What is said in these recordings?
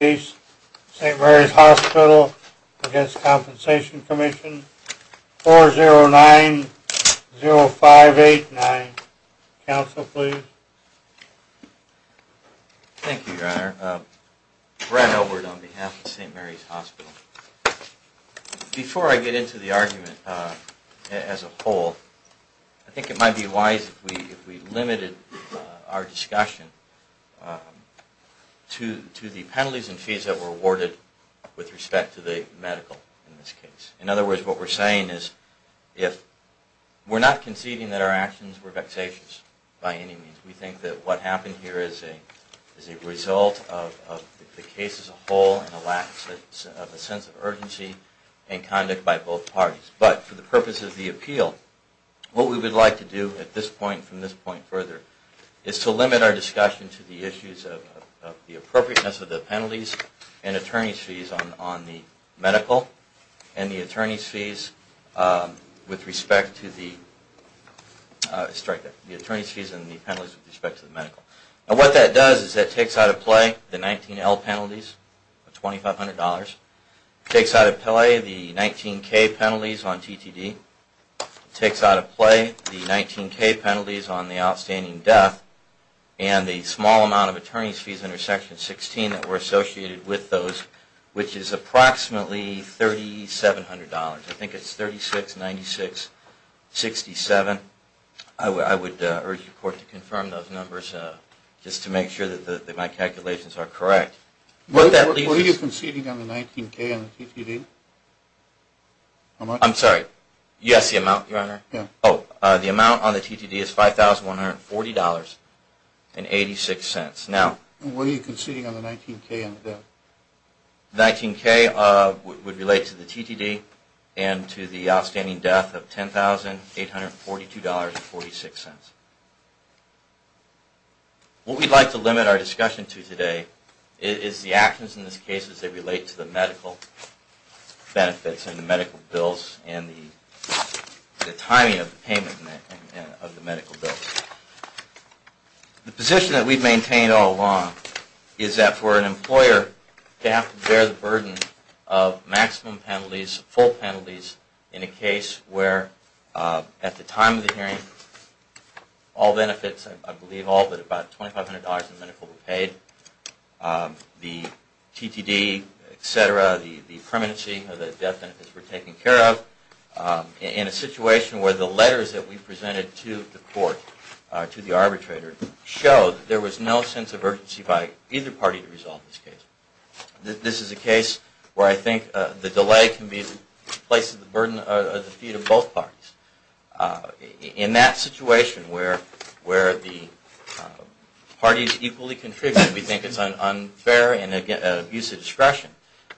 4090589. Council please. Thank you, Your Honor. Brad Elbert on behalf of St. Mary's Hospital. Before I get into the argument as a whole, I think it might be wise if we limited our discussion on the fees that were awarded with respect to the medical in this case. In other words, what we're saying is, we're not conceding that our actions were vexatious by any means. We think that what happened here is a result of the case as a whole and a lack of a sense of urgency and conduct by both parties. But for the purpose of the appeal, what we would like to do at this point, from this point further, is to limit our discussion to the issues of the appropriateness of the penalties and attorney's fees on the medical and the attorney's fees with respect to the medical. And what that does is it takes out of play the 19L penalties of $2,500, takes out of play the 19K penalties on TTD, takes out of play the small amount of attorney's fees under Section 16 that were associated with those, which is approximately $3,700. I think it's $3,696.67. I would urge the Court to confirm those numbers just to make sure that my calculations are correct. Were you conceding on the 19K on the TTD? I'm sorry? Yes, the amount, Your Honor. Yeah. So, the amount on the TTD is $5,140.86. Now... Were you conceding on the 19K on the death? The 19K would relate to the TTD and to the outstanding death of $10,842.46. What we'd like to limit our discussion to today is the actions in this case as they relate to the payment of the medical bill. The position that we've maintained all along is that for an employer to have to bear the burden of maximum penalties, full penalties, in a case where at the time of the hearing all benefits, I believe all, but about $2,500 in medical were paid, the TTD, et cetera, the permanency of the death benefits were taken care of, in a situation where the letters that we presented to the court, to the arbitrator, showed there was no sense of urgency by either party to resolve this case. This is a case where I think the delay can be the place of the burden of the feet of both parties. In that situation where the parties equally contribute, we think it's unfair and an abuse of discretion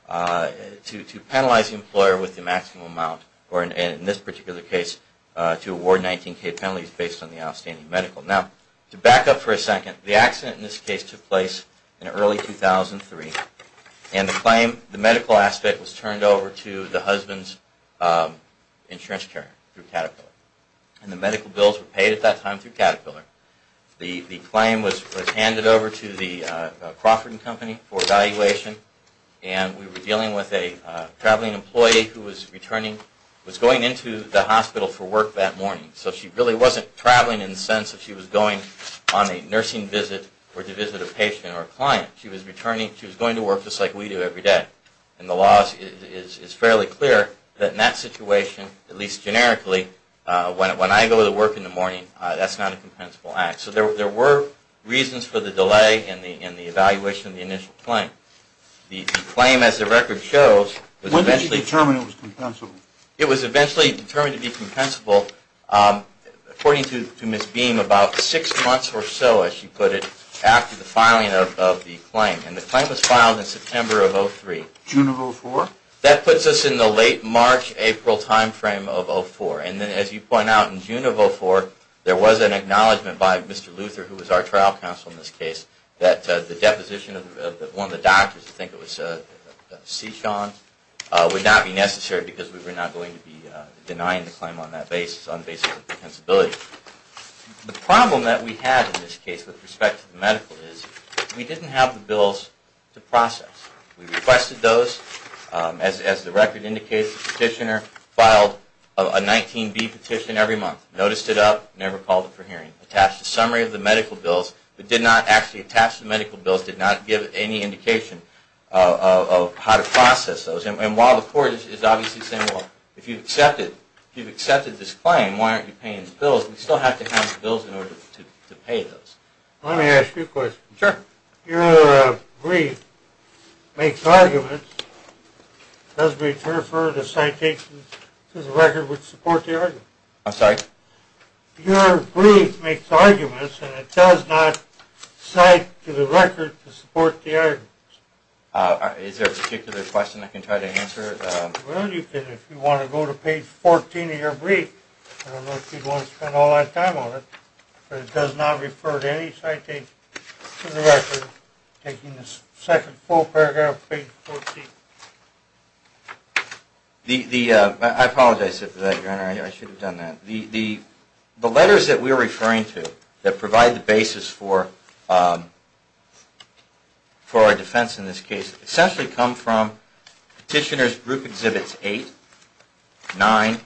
to in this particular case to award 19K penalties based on the outstanding medical. Now, to back up for a second, the accident in this case took place in early 2003, and the claim, the medical aspect, was turned over to the husband's insurance carrier through Caterpillar. And the medical bills were paid at that time through Caterpillar. The claim was handed over to the Crawford & Company for evaluation, and we were dealing with a patient going into the hospital for work that morning. So she really wasn't traveling in the sense that she was going on a nursing visit or to visit a patient or a client. She was returning, she was going to work just like we do every day. And the law is fairly clear that in that situation, at least generically, when I go to work in the morning, that's not a compensable act. So there were reasons for the delay in the evaluation of the initial claim. The claim, as the record shows, was eventually When did you determine it was compensable? It was eventually determined to be compensable, according to Ms. Beam, about six months or so, as she put it, after the filing of the claim. And the claim was filed in September of 2003. June of 2004? That puts us in the late March-April time frame of 2004. And then, as you point out, in June of 2004, there was an acknowledgment by Mr. Luther, who was our trial counsel in this case, that the deposition of one of the doctors, I think it was C. Sean, would not be necessary because we were not going to be denying the claim on the basis of compensability. The problem that we had in this case, with respect to the medical, is we didn't have the bills to process. We requested those, as the record indicates, the petitioner filed a 19B petition every month, noticed it up, never called it for hearing, attached a summary of the medical bills, but did not actually attach the medical bills, did not give any indication of how to process those. And while the Court is obviously saying, well, if you've accepted this claim, why aren't you paying the bills, we still have to have the bills in order to pay those. Let me ask you a question. Sure. Your brief makes arguments, does make refer to citations, in the record which support the argument. I'm sorry? Your brief makes arguments, and it does not cite to the record to support the argument. Is there a particular question I can try to answer? Well, you can if you want to go to page 14 of your brief. I don't know if you'd want to spend all that time on it, but it does not refer to any citation to the record, taking the second full paragraph, page 14. I apologize for that, Your Honor. I should have done that. The letters that we are referring to that provide the basis for our defense in this case essentially come from Petitioner's Exhibits 6-25,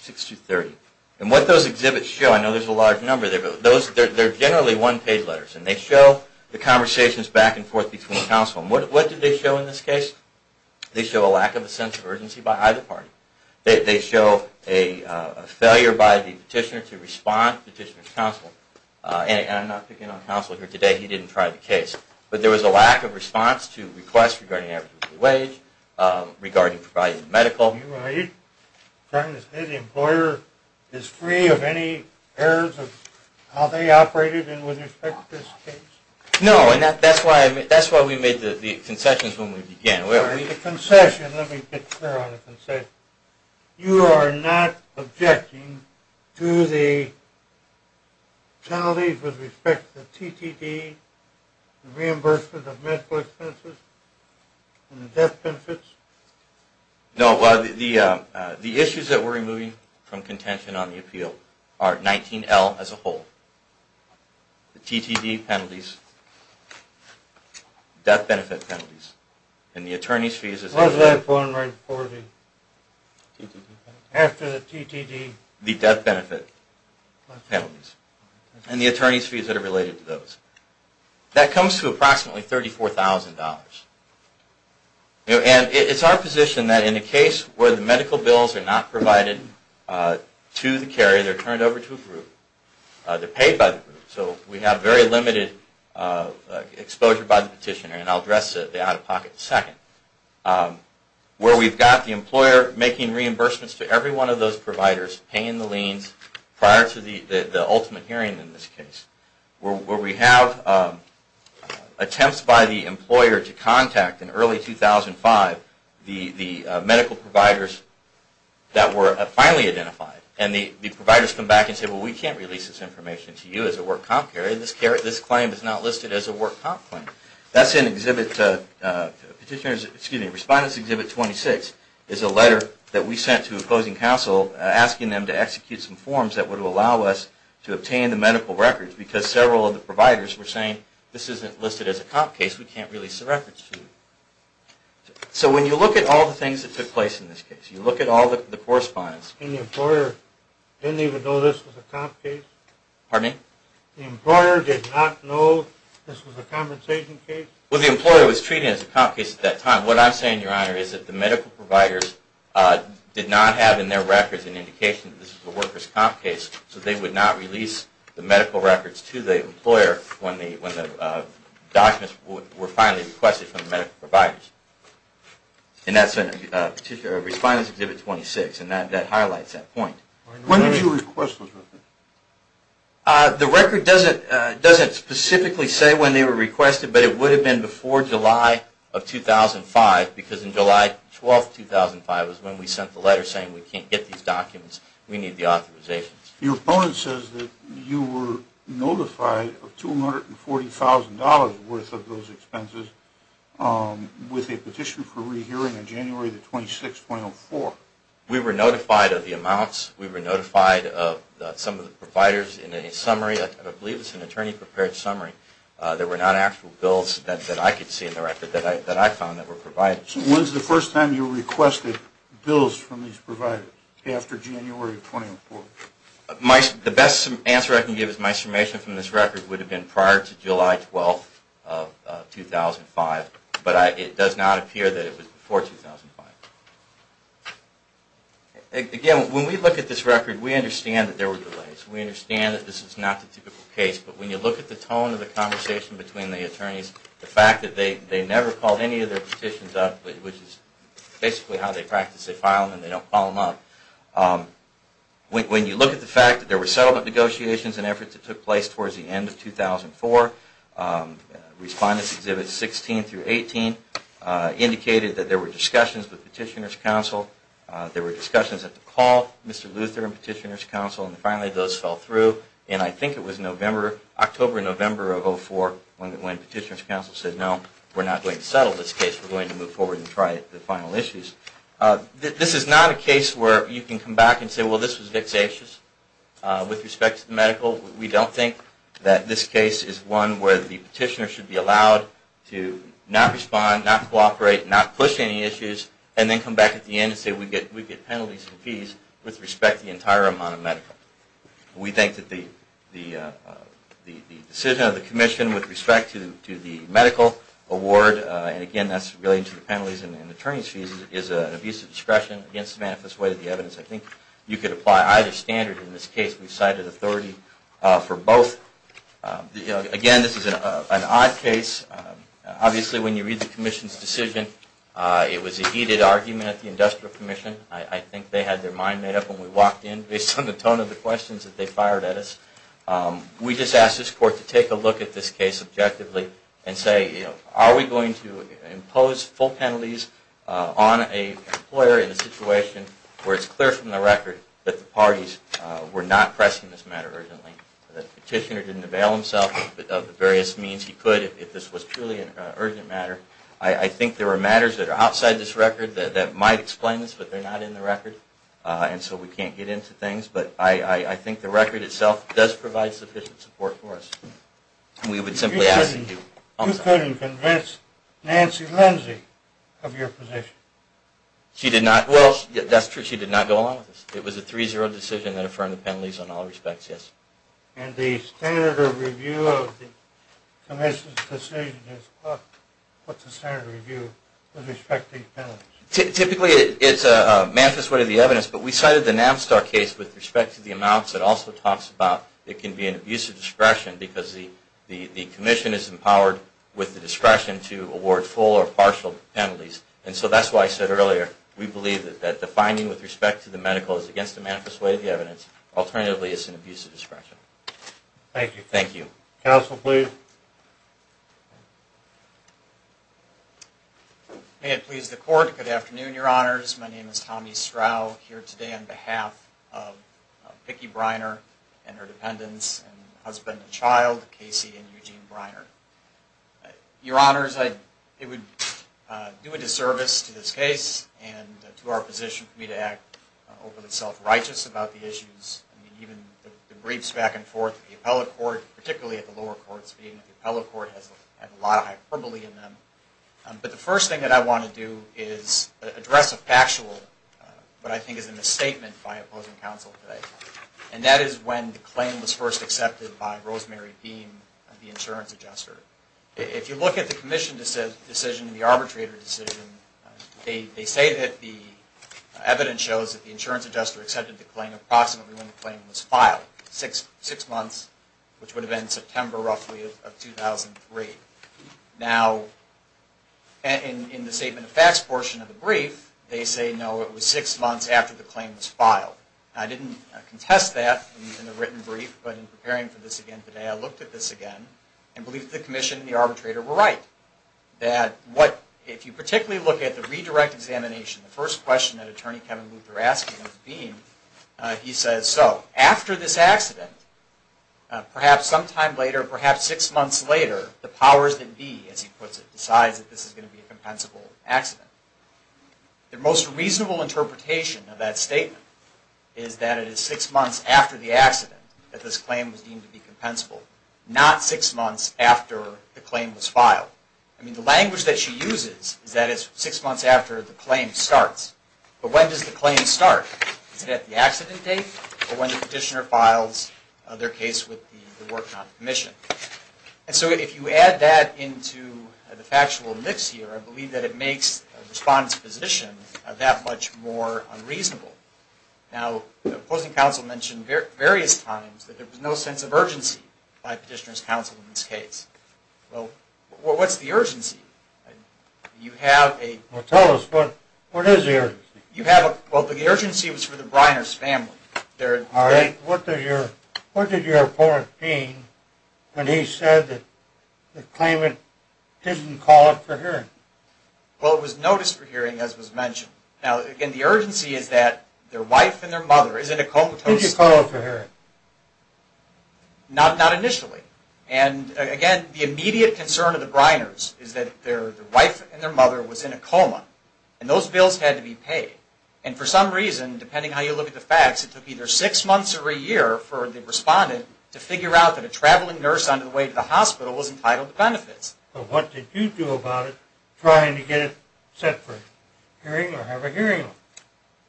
6-30. And what those exhibits show, I know there's a large number there, but they're generally one-page letters, and they show the conversations back and forth between counsel. And what do they show in this case? They show a lack of a sense of urgency by either party. They show a failure by the petitioner to respond to Petitioner's counsel. And I'm not picking on counsel here today. He didn't try the case. But there was a lack of response to requests regarding average wage, regarding providing medical. Are you trying to say the employer is free of any errors of how they operated with respect to this case? No, and that's why we made the concessions when we began. All right, the concession. Let me get clear on the concession. You are not objecting to the penalties with respect to the TTD, the reimbursement of medical expenses, and the death benefits? No, the issues that we're removing from contention on the appeal are 19L as a whole, the TTD penalties, death benefit penalties, and the attorney's fees. Was that born right before the TTD? After the TTD. The TTD, the death benefit penalties, and the attorney's fees that are related to those. That comes to approximately $34,000. And it's our position that in a case where the medical bills are not provided to the carrier, they're turned over to a group, they're paid by the group. So we have very limited exposure by the petitioner. And I'll address the out-of-pocket in a second. Where we've got the employer making reimbursements to every one of those providers, paying the liens prior to the ultimate hearing in this case. Where we have attempts by the employer to contact in early 2005 the medical providers that were finally identified. And the providers come back and say, well, we can't release this information to you as a work comp carrier. This claim is not listed as a work comp claim. That's in Respondents Exhibit 26, is a letter that we sent to opposing counsel asking them to execute some forms that would allow us to obtain the medical records. Because several of the providers were saying, this isn't listed as a comp case, we can't release the records to you. So when you look at all the things that took place in this case, you look at all the correspondence. And the employer didn't even know this was a comp case? Pardon me? The employer did not know this was a compensation case? Well, the employer was treating it as a comp case at that time. What I'm saying, Your Honor, is that the medical providers did not have in their records an indication that this was a workers' comp case. So they would not release the medical records to the employer when the documents were finally requested from the medical providers. And that's in Respondents Exhibit 26. And that highlights that point. When did you request those records? The record doesn't specifically say when they were requested, but it would have been before July of 2005, because in July 12, 2005 was when we sent the letter saying we can't get these documents, we need the authorizations. Your opponent says that you were notified of $240,000 worth of those expenses with a petition for rehearing on January 26, 2004. We were notified of the amounts. We were notified of some of the providers in a summary. I believe it was an attorney-prepared summary. There were not actual bills that I could see in the record that I found that were provided. When was the first time you requested bills from these providers after January of 2004? The best answer I can give is my summation from this record would have been prior to July 12, 2005, but it does not appear that it was before 2005. Again, when we look at this record, we understand that there were delays. We understand that this is not the typical case, but when you look at the tone of the conversation between the attorneys, the fact that they never called any of their petitions up, which is basically how they practice. They file them and they don't call them up. When you look at the fact that there were settlement negotiations and efforts that took place towards the end of 2004, Respondents' Exhibits 16 through 18 indicated that there were discussions with Petitioner's Council. There were discussions at the call, Mr. Luther and Petitioner's Council, and finally those fell through. And I think it was October or November of 2004 when Petitioner's Council said, no, we're not going to settle this case. We're going to move forward and try the final issues. This is not a case where you can come back and say, well, this was vexatious with respect to the We don't think that this case is one where the petitioner should be allowed to not respond, not cooperate, not push any issues, and then come back at the end and say, we get penalties and fees with respect to the entire amount of medical. We think that the decision of the Commission with respect to the medical award, and again, that's related to the penalties and attorney's fees, is an abuse of discretion against the manifest way of the evidence. I think you could apply either standard in this case. We cited authority for both. Again, this is an odd case. Obviously, when you read the Commission's decision, it was a heated argument at the Industrial Commission. I think they had their mind made up when we walked in, based on the tone of the questions that they fired at us. We just asked this Court to take a look at this case objectively and say, are we going to impose full It's clear from the record that the parties were not pressing this matter urgently. The petitioner didn't avail himself of the various means he could if this was truly an urgent matter. I think there are matters that are outside this record that might explain this, but they're not in the record, and so we can't get into things. But I think the record itself does provide sufficient support for us. You couldn't convince Nancy Lindsay of your position? She did not. Well, that's true. She did not go along with us. It was a 3-0 decision that affirmed the penalties in all respects, yes. And the standard of review of the Commission's decision, what's the standard of review with respect to these penalties? Typically, it's a manifest way of the evidence, but we cited the NAMSTAR case with respect to the amounts. It also talks about it can be an abuse of discretion because the Commission is empowered with the We believe that the finding with respect to the medical is against the manifest way of the evidence. Alternatively, it's an abuse of discretion. Thank you. Thank you. Counsel, please. May it please the Court, good afternoon, Your Honors. My name is Tommy Strau here today on behalf of Vicki Briner and her dependents and husband and child, Casey and Eugene Briner. Your Honors, I would do a service to this case and to our position for me to act over the self-righteous about the issues, even the briefs back and forth to the appellate court, particularly at the lower courts, but even the appellate court has a lot of hyperbole in them. But the first thing that I want to do is address a factual, what I think is a misstatement by opposing counsel today, and that is when the claim was first accepted by Rosemary Deem, the insurance adjuster. If you look at the commission decision and the arbitrator decision, they say that the evidence shows that the insurance adjuster accepted the claim approximately when the claim was filed, six months, which would have been September, roughly, of 2003. Now, in the statement of facts portion of the brief, they say, no, it was six months after the claim was filed. I didn't contest that in the written brief, but in preparing for this again today, I looked at this again and I believe the commission and the arbitrator were right. That what, if you particularly look at the redirect examination, the first question that Attorney Kevin Luther asked him was being, he says, so, after this accident, perhaps sometime later, perhaps six months later, the powers that be, as he puts it, decides that this is going to be a compensable accident. The most reasonable interpretation of that statement is that it is six months after the accident that this claim was deemed to be compensable, not six months after the claim was filed. I mean, the language that she uses is that it's six months after the claim starts. But when does the claim start? Is it at the accident date, or when the petitioner files their case with the work non-commission? And so, if you add that into the factual mix here, I believe that it makes the respondent's position that much more unreasonable. Now, the opposing counsel mentioned various times that there was no sense of urgency by the petitioner's counsel in this case. Well, what's the urgency? You have a... Well, tell us. What is the urgency? You have a... Well, the urgency was for the Breiner's family. All right. What did your opponent mean when he said that the claimant didn't call it for hearing? Well, it was noticed for hearing, as was mentioned. Now, again, the urgency is that their wife and their mother is in a coma. Who did you call for hearing? Not initially. And, again, the immediate concern of the Breiner's is that their wife and their mother was in a coma, and those bills had to be paid. And for some reason, depending on how you look at the facts, it took either six months or a year for the respondent to figure out that a traveling nurse on the way to the hospital was entitled to benefits. But what did you do about it, trying to get it set for hearing or have a hearing on it?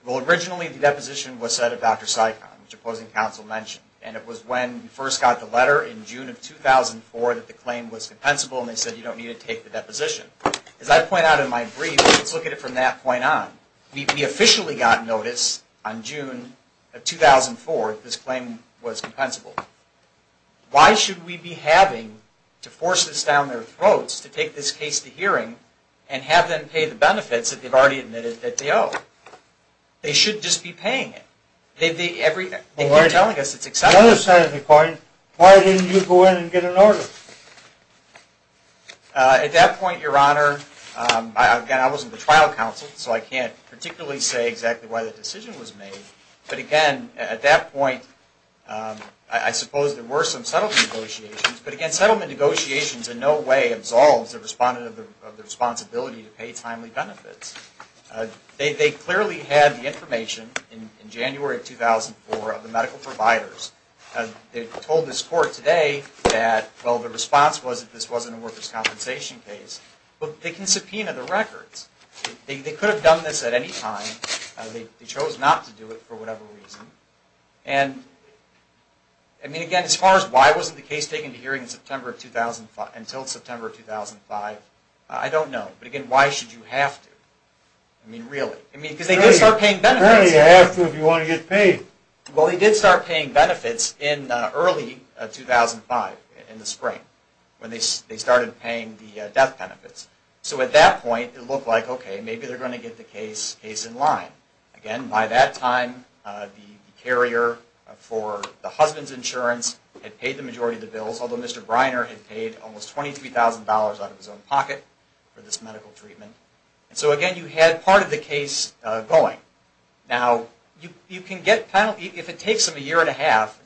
Well, originally the deposition was set at Dr. Sikon, which opposing counsel mentioned. And it was when we first got the letter in June of 2004 that the claim was compensable, and they said you don't need to take the deposition. As I point out in my brief, let's look at it from that point on. We officially got notice on June of 2004 that this claim was compensable. Why should we be having to force this down their throats to take this case to hearing and have them pay the benefits that they've already admitted that they owe? They should just be paying it. They've been telling us it's acceptable. The other side of the coin, why didn't you go in and get an order? At that point, Your Honor, again, I wasn't the trial counsel, so I can't particularly say exactly why the decision was made. But again, at that point, I suppose there were some settlement negotiations. But again, settlement negotiations in no way absolves the respondent of the responsibility to pay timely benefits. They clearly had the information in January of 2004 of the medical providers. They told this court today that, well, the response was that this wasn't a workers' compensation case. But they can subpoena the records. They could have done this at any time. They chose not to do it for whatever reason. And, I mean, again, as far as why wasn't the case taken to hearing until September 2005, I don't know. But again, why should you have to? I mean, really. I mean, because they did start paying benefits. Really, you have to if you want to get paid. Well, they did start paying benefits in early 2005, in the spring, when they started paying the death benefits. So at that point, it looked like, okay, maybe they're going to get the case in line. Again, by that time, the carrier for the husband's insurance had paid the majority of the bills, although Mr. Briner had paid almost $23,000 out of his own pocket for this medical treatment. And so, again, you had part of the case going. Now, if it takes them a year and a half,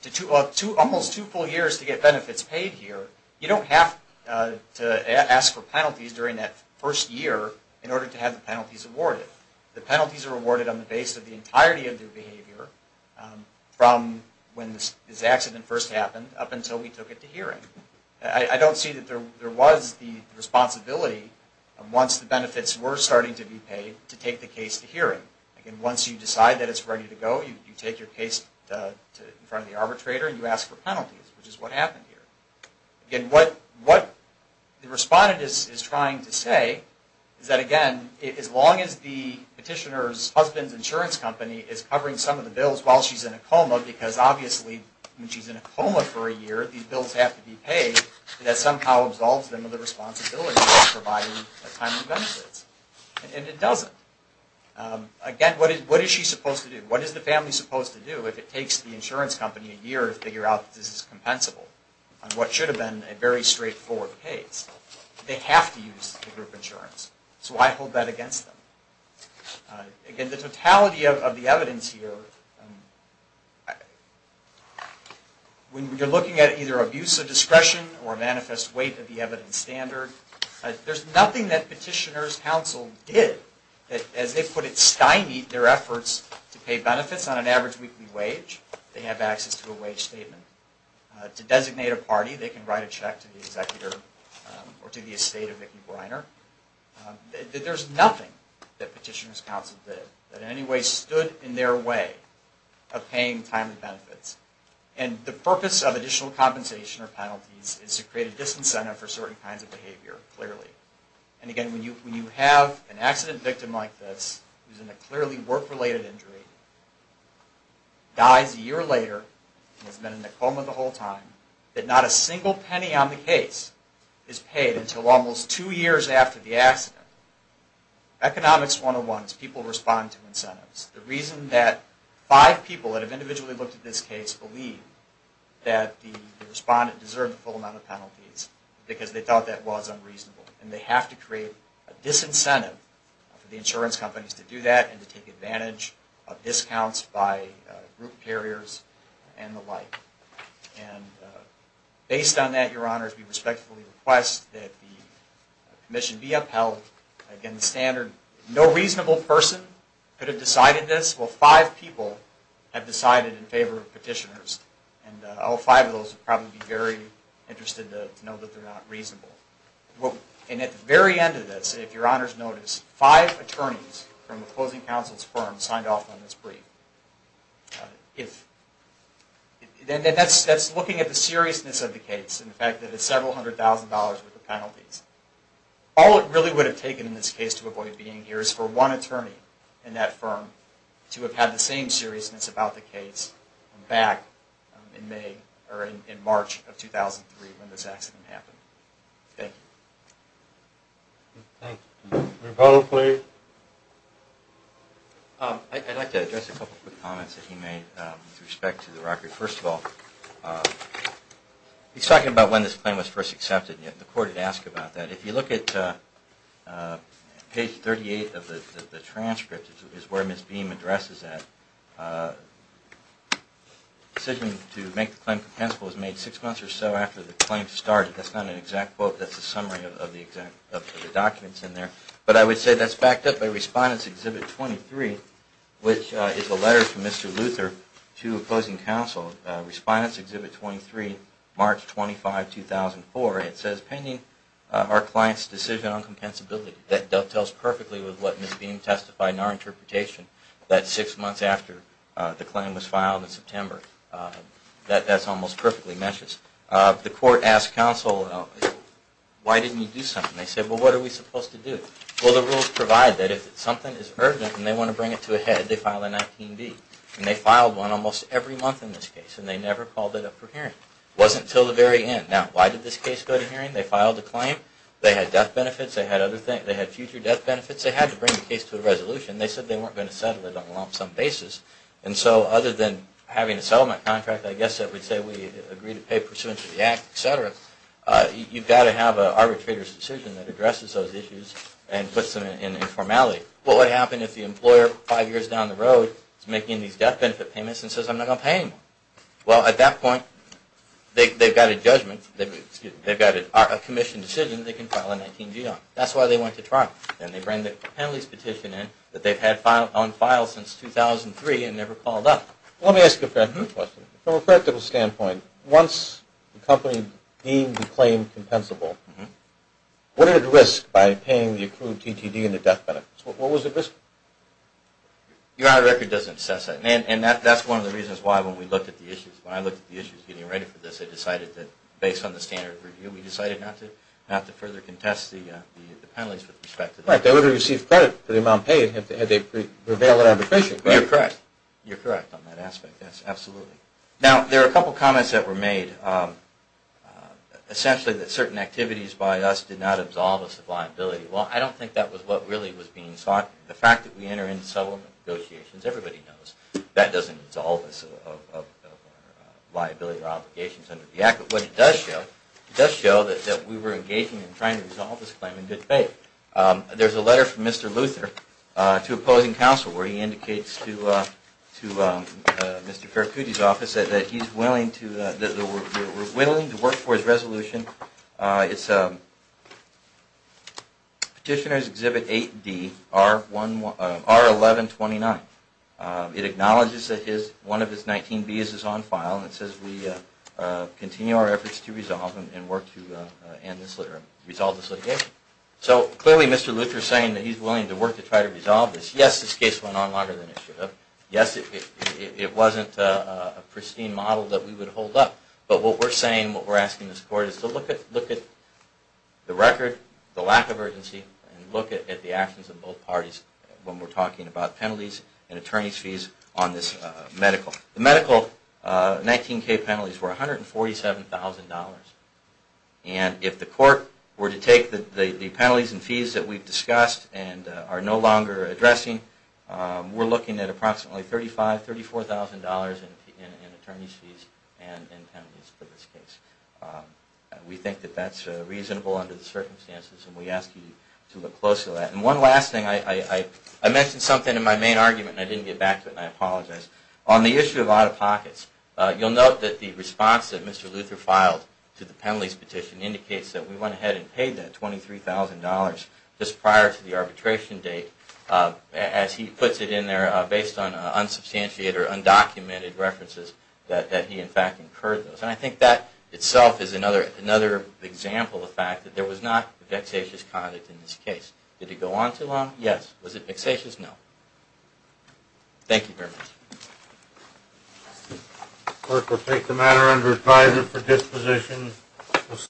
almost two full years to get benefits paid here, you don't have to ask for penalties during that first year in order to have the penalties awarded. The penalties are awarded on the basis of the entirety of their behavior from when this accident first happened up until we took it to hearing. I don't see that there was the responsibility, once the benefits were starting to be paid, to take the case to hearing. Again, once you decide that it's ready to go, you take your case in front of the arbitrator and you ask for penalties, which is what happened here. Again, what the respondent is trying to say is that, again, as long as the petitioner's husband's insurance company is covering some of the bills while she's in a coma, because obviously when she's in a coma for a year, these bills have to be paid, that somehow absolves them of the responsibility of providing timely benefits. And it doesn't. Again, what is she supposed to do? What is the family supposed to do if it takes the insurance company a year to figure out that this is compensable on what should have been a very straightforward case? They have to use the group insurance, so why hold that against them? Again, the totality of the evidence here, when you're looking at either abuse of discretion or a manifest weight of the evidence standard, there's nothing that petitioners' counsel did that, as they put it, sky meets their efforts to pay benefits on an average weekly wage. They have access to a wage statement. To designate a party, they can write a check to the estate of Vicki Briner. There's nothing that petitioners' counsel did that in any way stood in their way of paying timely benefits. And the purpose of additional compensation or penalties is to create a disincentive for certain kinds of behavior, clearly. And again, when you have an accident victim like this, who's in a clearly work-related injury, dies a year later and has been in a coma the whole time, that not a single penny on the case is paid until almost two years after the accident. Economics 101 is people respond to incentives. The reason that five people that have individually looked at this case believe that the respondent deserve the full amount of penalties, because they thought that was unreasonable. And they have to create a disincentive for the insurance companies to do that and to take advantage of discounts by group carriers and the like. And based on that, Your Honors, we respectfully request that the commission be upheld. Again, the standard, no reasonable person could have decided this. Well, five people have decided in favor of petitioners. And all five of those would probably be very interested to know that they're not reasonable. And at the very end of this, if Your Honors notice, five attorneys from the closing counsel's firm signed off on this brief. And that's looking at the seriousness of the case and the fact that it's several hundred thousand dollars worth of penalties. All it really would have taken in this case to avoid being here is for one attorney in that firm to have had the same seriousness about the case back in May or in March of 2003 when this accident happened. Thank you. Rebuttal, please. I'd like to address a couple of quick comments that he made with respect to the record. First of all, he's talking about when this claim was first accepted. The court had asked about that. If you look at page 38 of the transcript, which is where Ms. Beam addresses that, the decision to make the claim compensable was made six months or so after the claim started. That's not an exact quote. That's a summary of the documents in there. But I would say that's backed up by Respondents Exhibit 23, which is a letter from Mr. Luther to a closing counsel. Respondents Exhibit 23, March 25, 2004. It says, painting our client's decision on compensability. That dovetails perfectly with what Ms. Beam testified in our interpretation that six months after the claim was filed in September. That almost perfectly matches. The court asked counsel, why didn't you do something? They said, well, what are we supposed to do? Well, the rules provide that if something is urgent and they want to bring it to a head, they file a 19B. And they filed one almost every month in this case. And they never called it up for hearing. It wasn't until the very end. Now, why did this case go to hearing? They filed a claim. They had death benefits. They had other things. They had future death benefits. They had to bring the case to a resolution. They said they weren't going to settle it on a lump sum basis. And so other than having a settlement contract, I guess that would say we agree to pay pursuant to the act, et cetera, you've got to have an arbitrator's decision that addresses those issues and puts them in informality. Well, what would happen if the employer five years down the road is making these death benefit payments and says, I'm not going to pay anymore? Well, at that point, they've got a judgment. They've got a commission decision they can file a 19G on. That's why they went to trial. And they bring the penalties petition in that they've had on file since 2003 and never called up. Let me ask you a practical question. From a practical standpoint, once the company deemed the claim compensable, what are the risks by paying the accrued TTD and the death benefits? What was the risk? Your Honor, the record doesn't assess that. And that's one of the reasons why when we looked at the issues, when I looked at the issues getting ready for this, I decided that based on the standard review, we decided not to further contest the penalties with respect to that. Right. They would have received credit for the amount paid had they prevailed on the petition, correct? You're correct. You're correct on that aspect. Yes, absolutely. Now, there are a couple of comments that were made. Essentially, that certain activities by us did not absolve us of liability. Well, I don't think that was what really was being sought. The fact that we enter into settlement negotiations, everybody knows that doesn't absolve us of liability or obligations under the Act. But what it does show, it does show that we were engaging in trying to resolve this claim in good faith. There's a letter from Mr. Luther to opposing counsel where he indicates to Mr. Farrakuti's office that he's willing to work for his resolution. It's Petitioner's Exhibit 8D, R1129. It acknowledges that one of his 19 B's is on file and says we continue our efforts to resolve and work to resolve this litigation. So, clearly, Mr. Luther is saying that he's willing to work to try to resolve this. Yes, this case went on longer than it should have. Yes, it wasn't a pristine model that we would hold up. But what we're saying, what we're asking this Court is to look at the record, the lack of urgency, and look at the actions of both parties when we're talking about penalties. And attorneys' fees on this medical. The medical 19K penalties were $147,000. And if the Court were to take the penalties and fees that we've discussed and are no longer addressing, we're looking at approximately $35,000, $34,000 in attorneys' fees and penalties for this case. We think that that's reasonable under the circumstances and we ask you to look closely at it. And one last thing, I mentioned something in my main argument and I didn't get back to it and I apologize. On the issue of out-of-pockets, you'll note that the response that Mr. Luther filed to the penalties petition indicates that we went ahead and paid that $23,000 just prior to the arbitration date. As he puts it in there, based on unsubstantiated or undocumented references that he in fact incurred those. And I think that itself is another example of the fact that there was not vexatious conduct in this case. Did it go on too long? Yes. Was it vexatious? No. Thank you very much.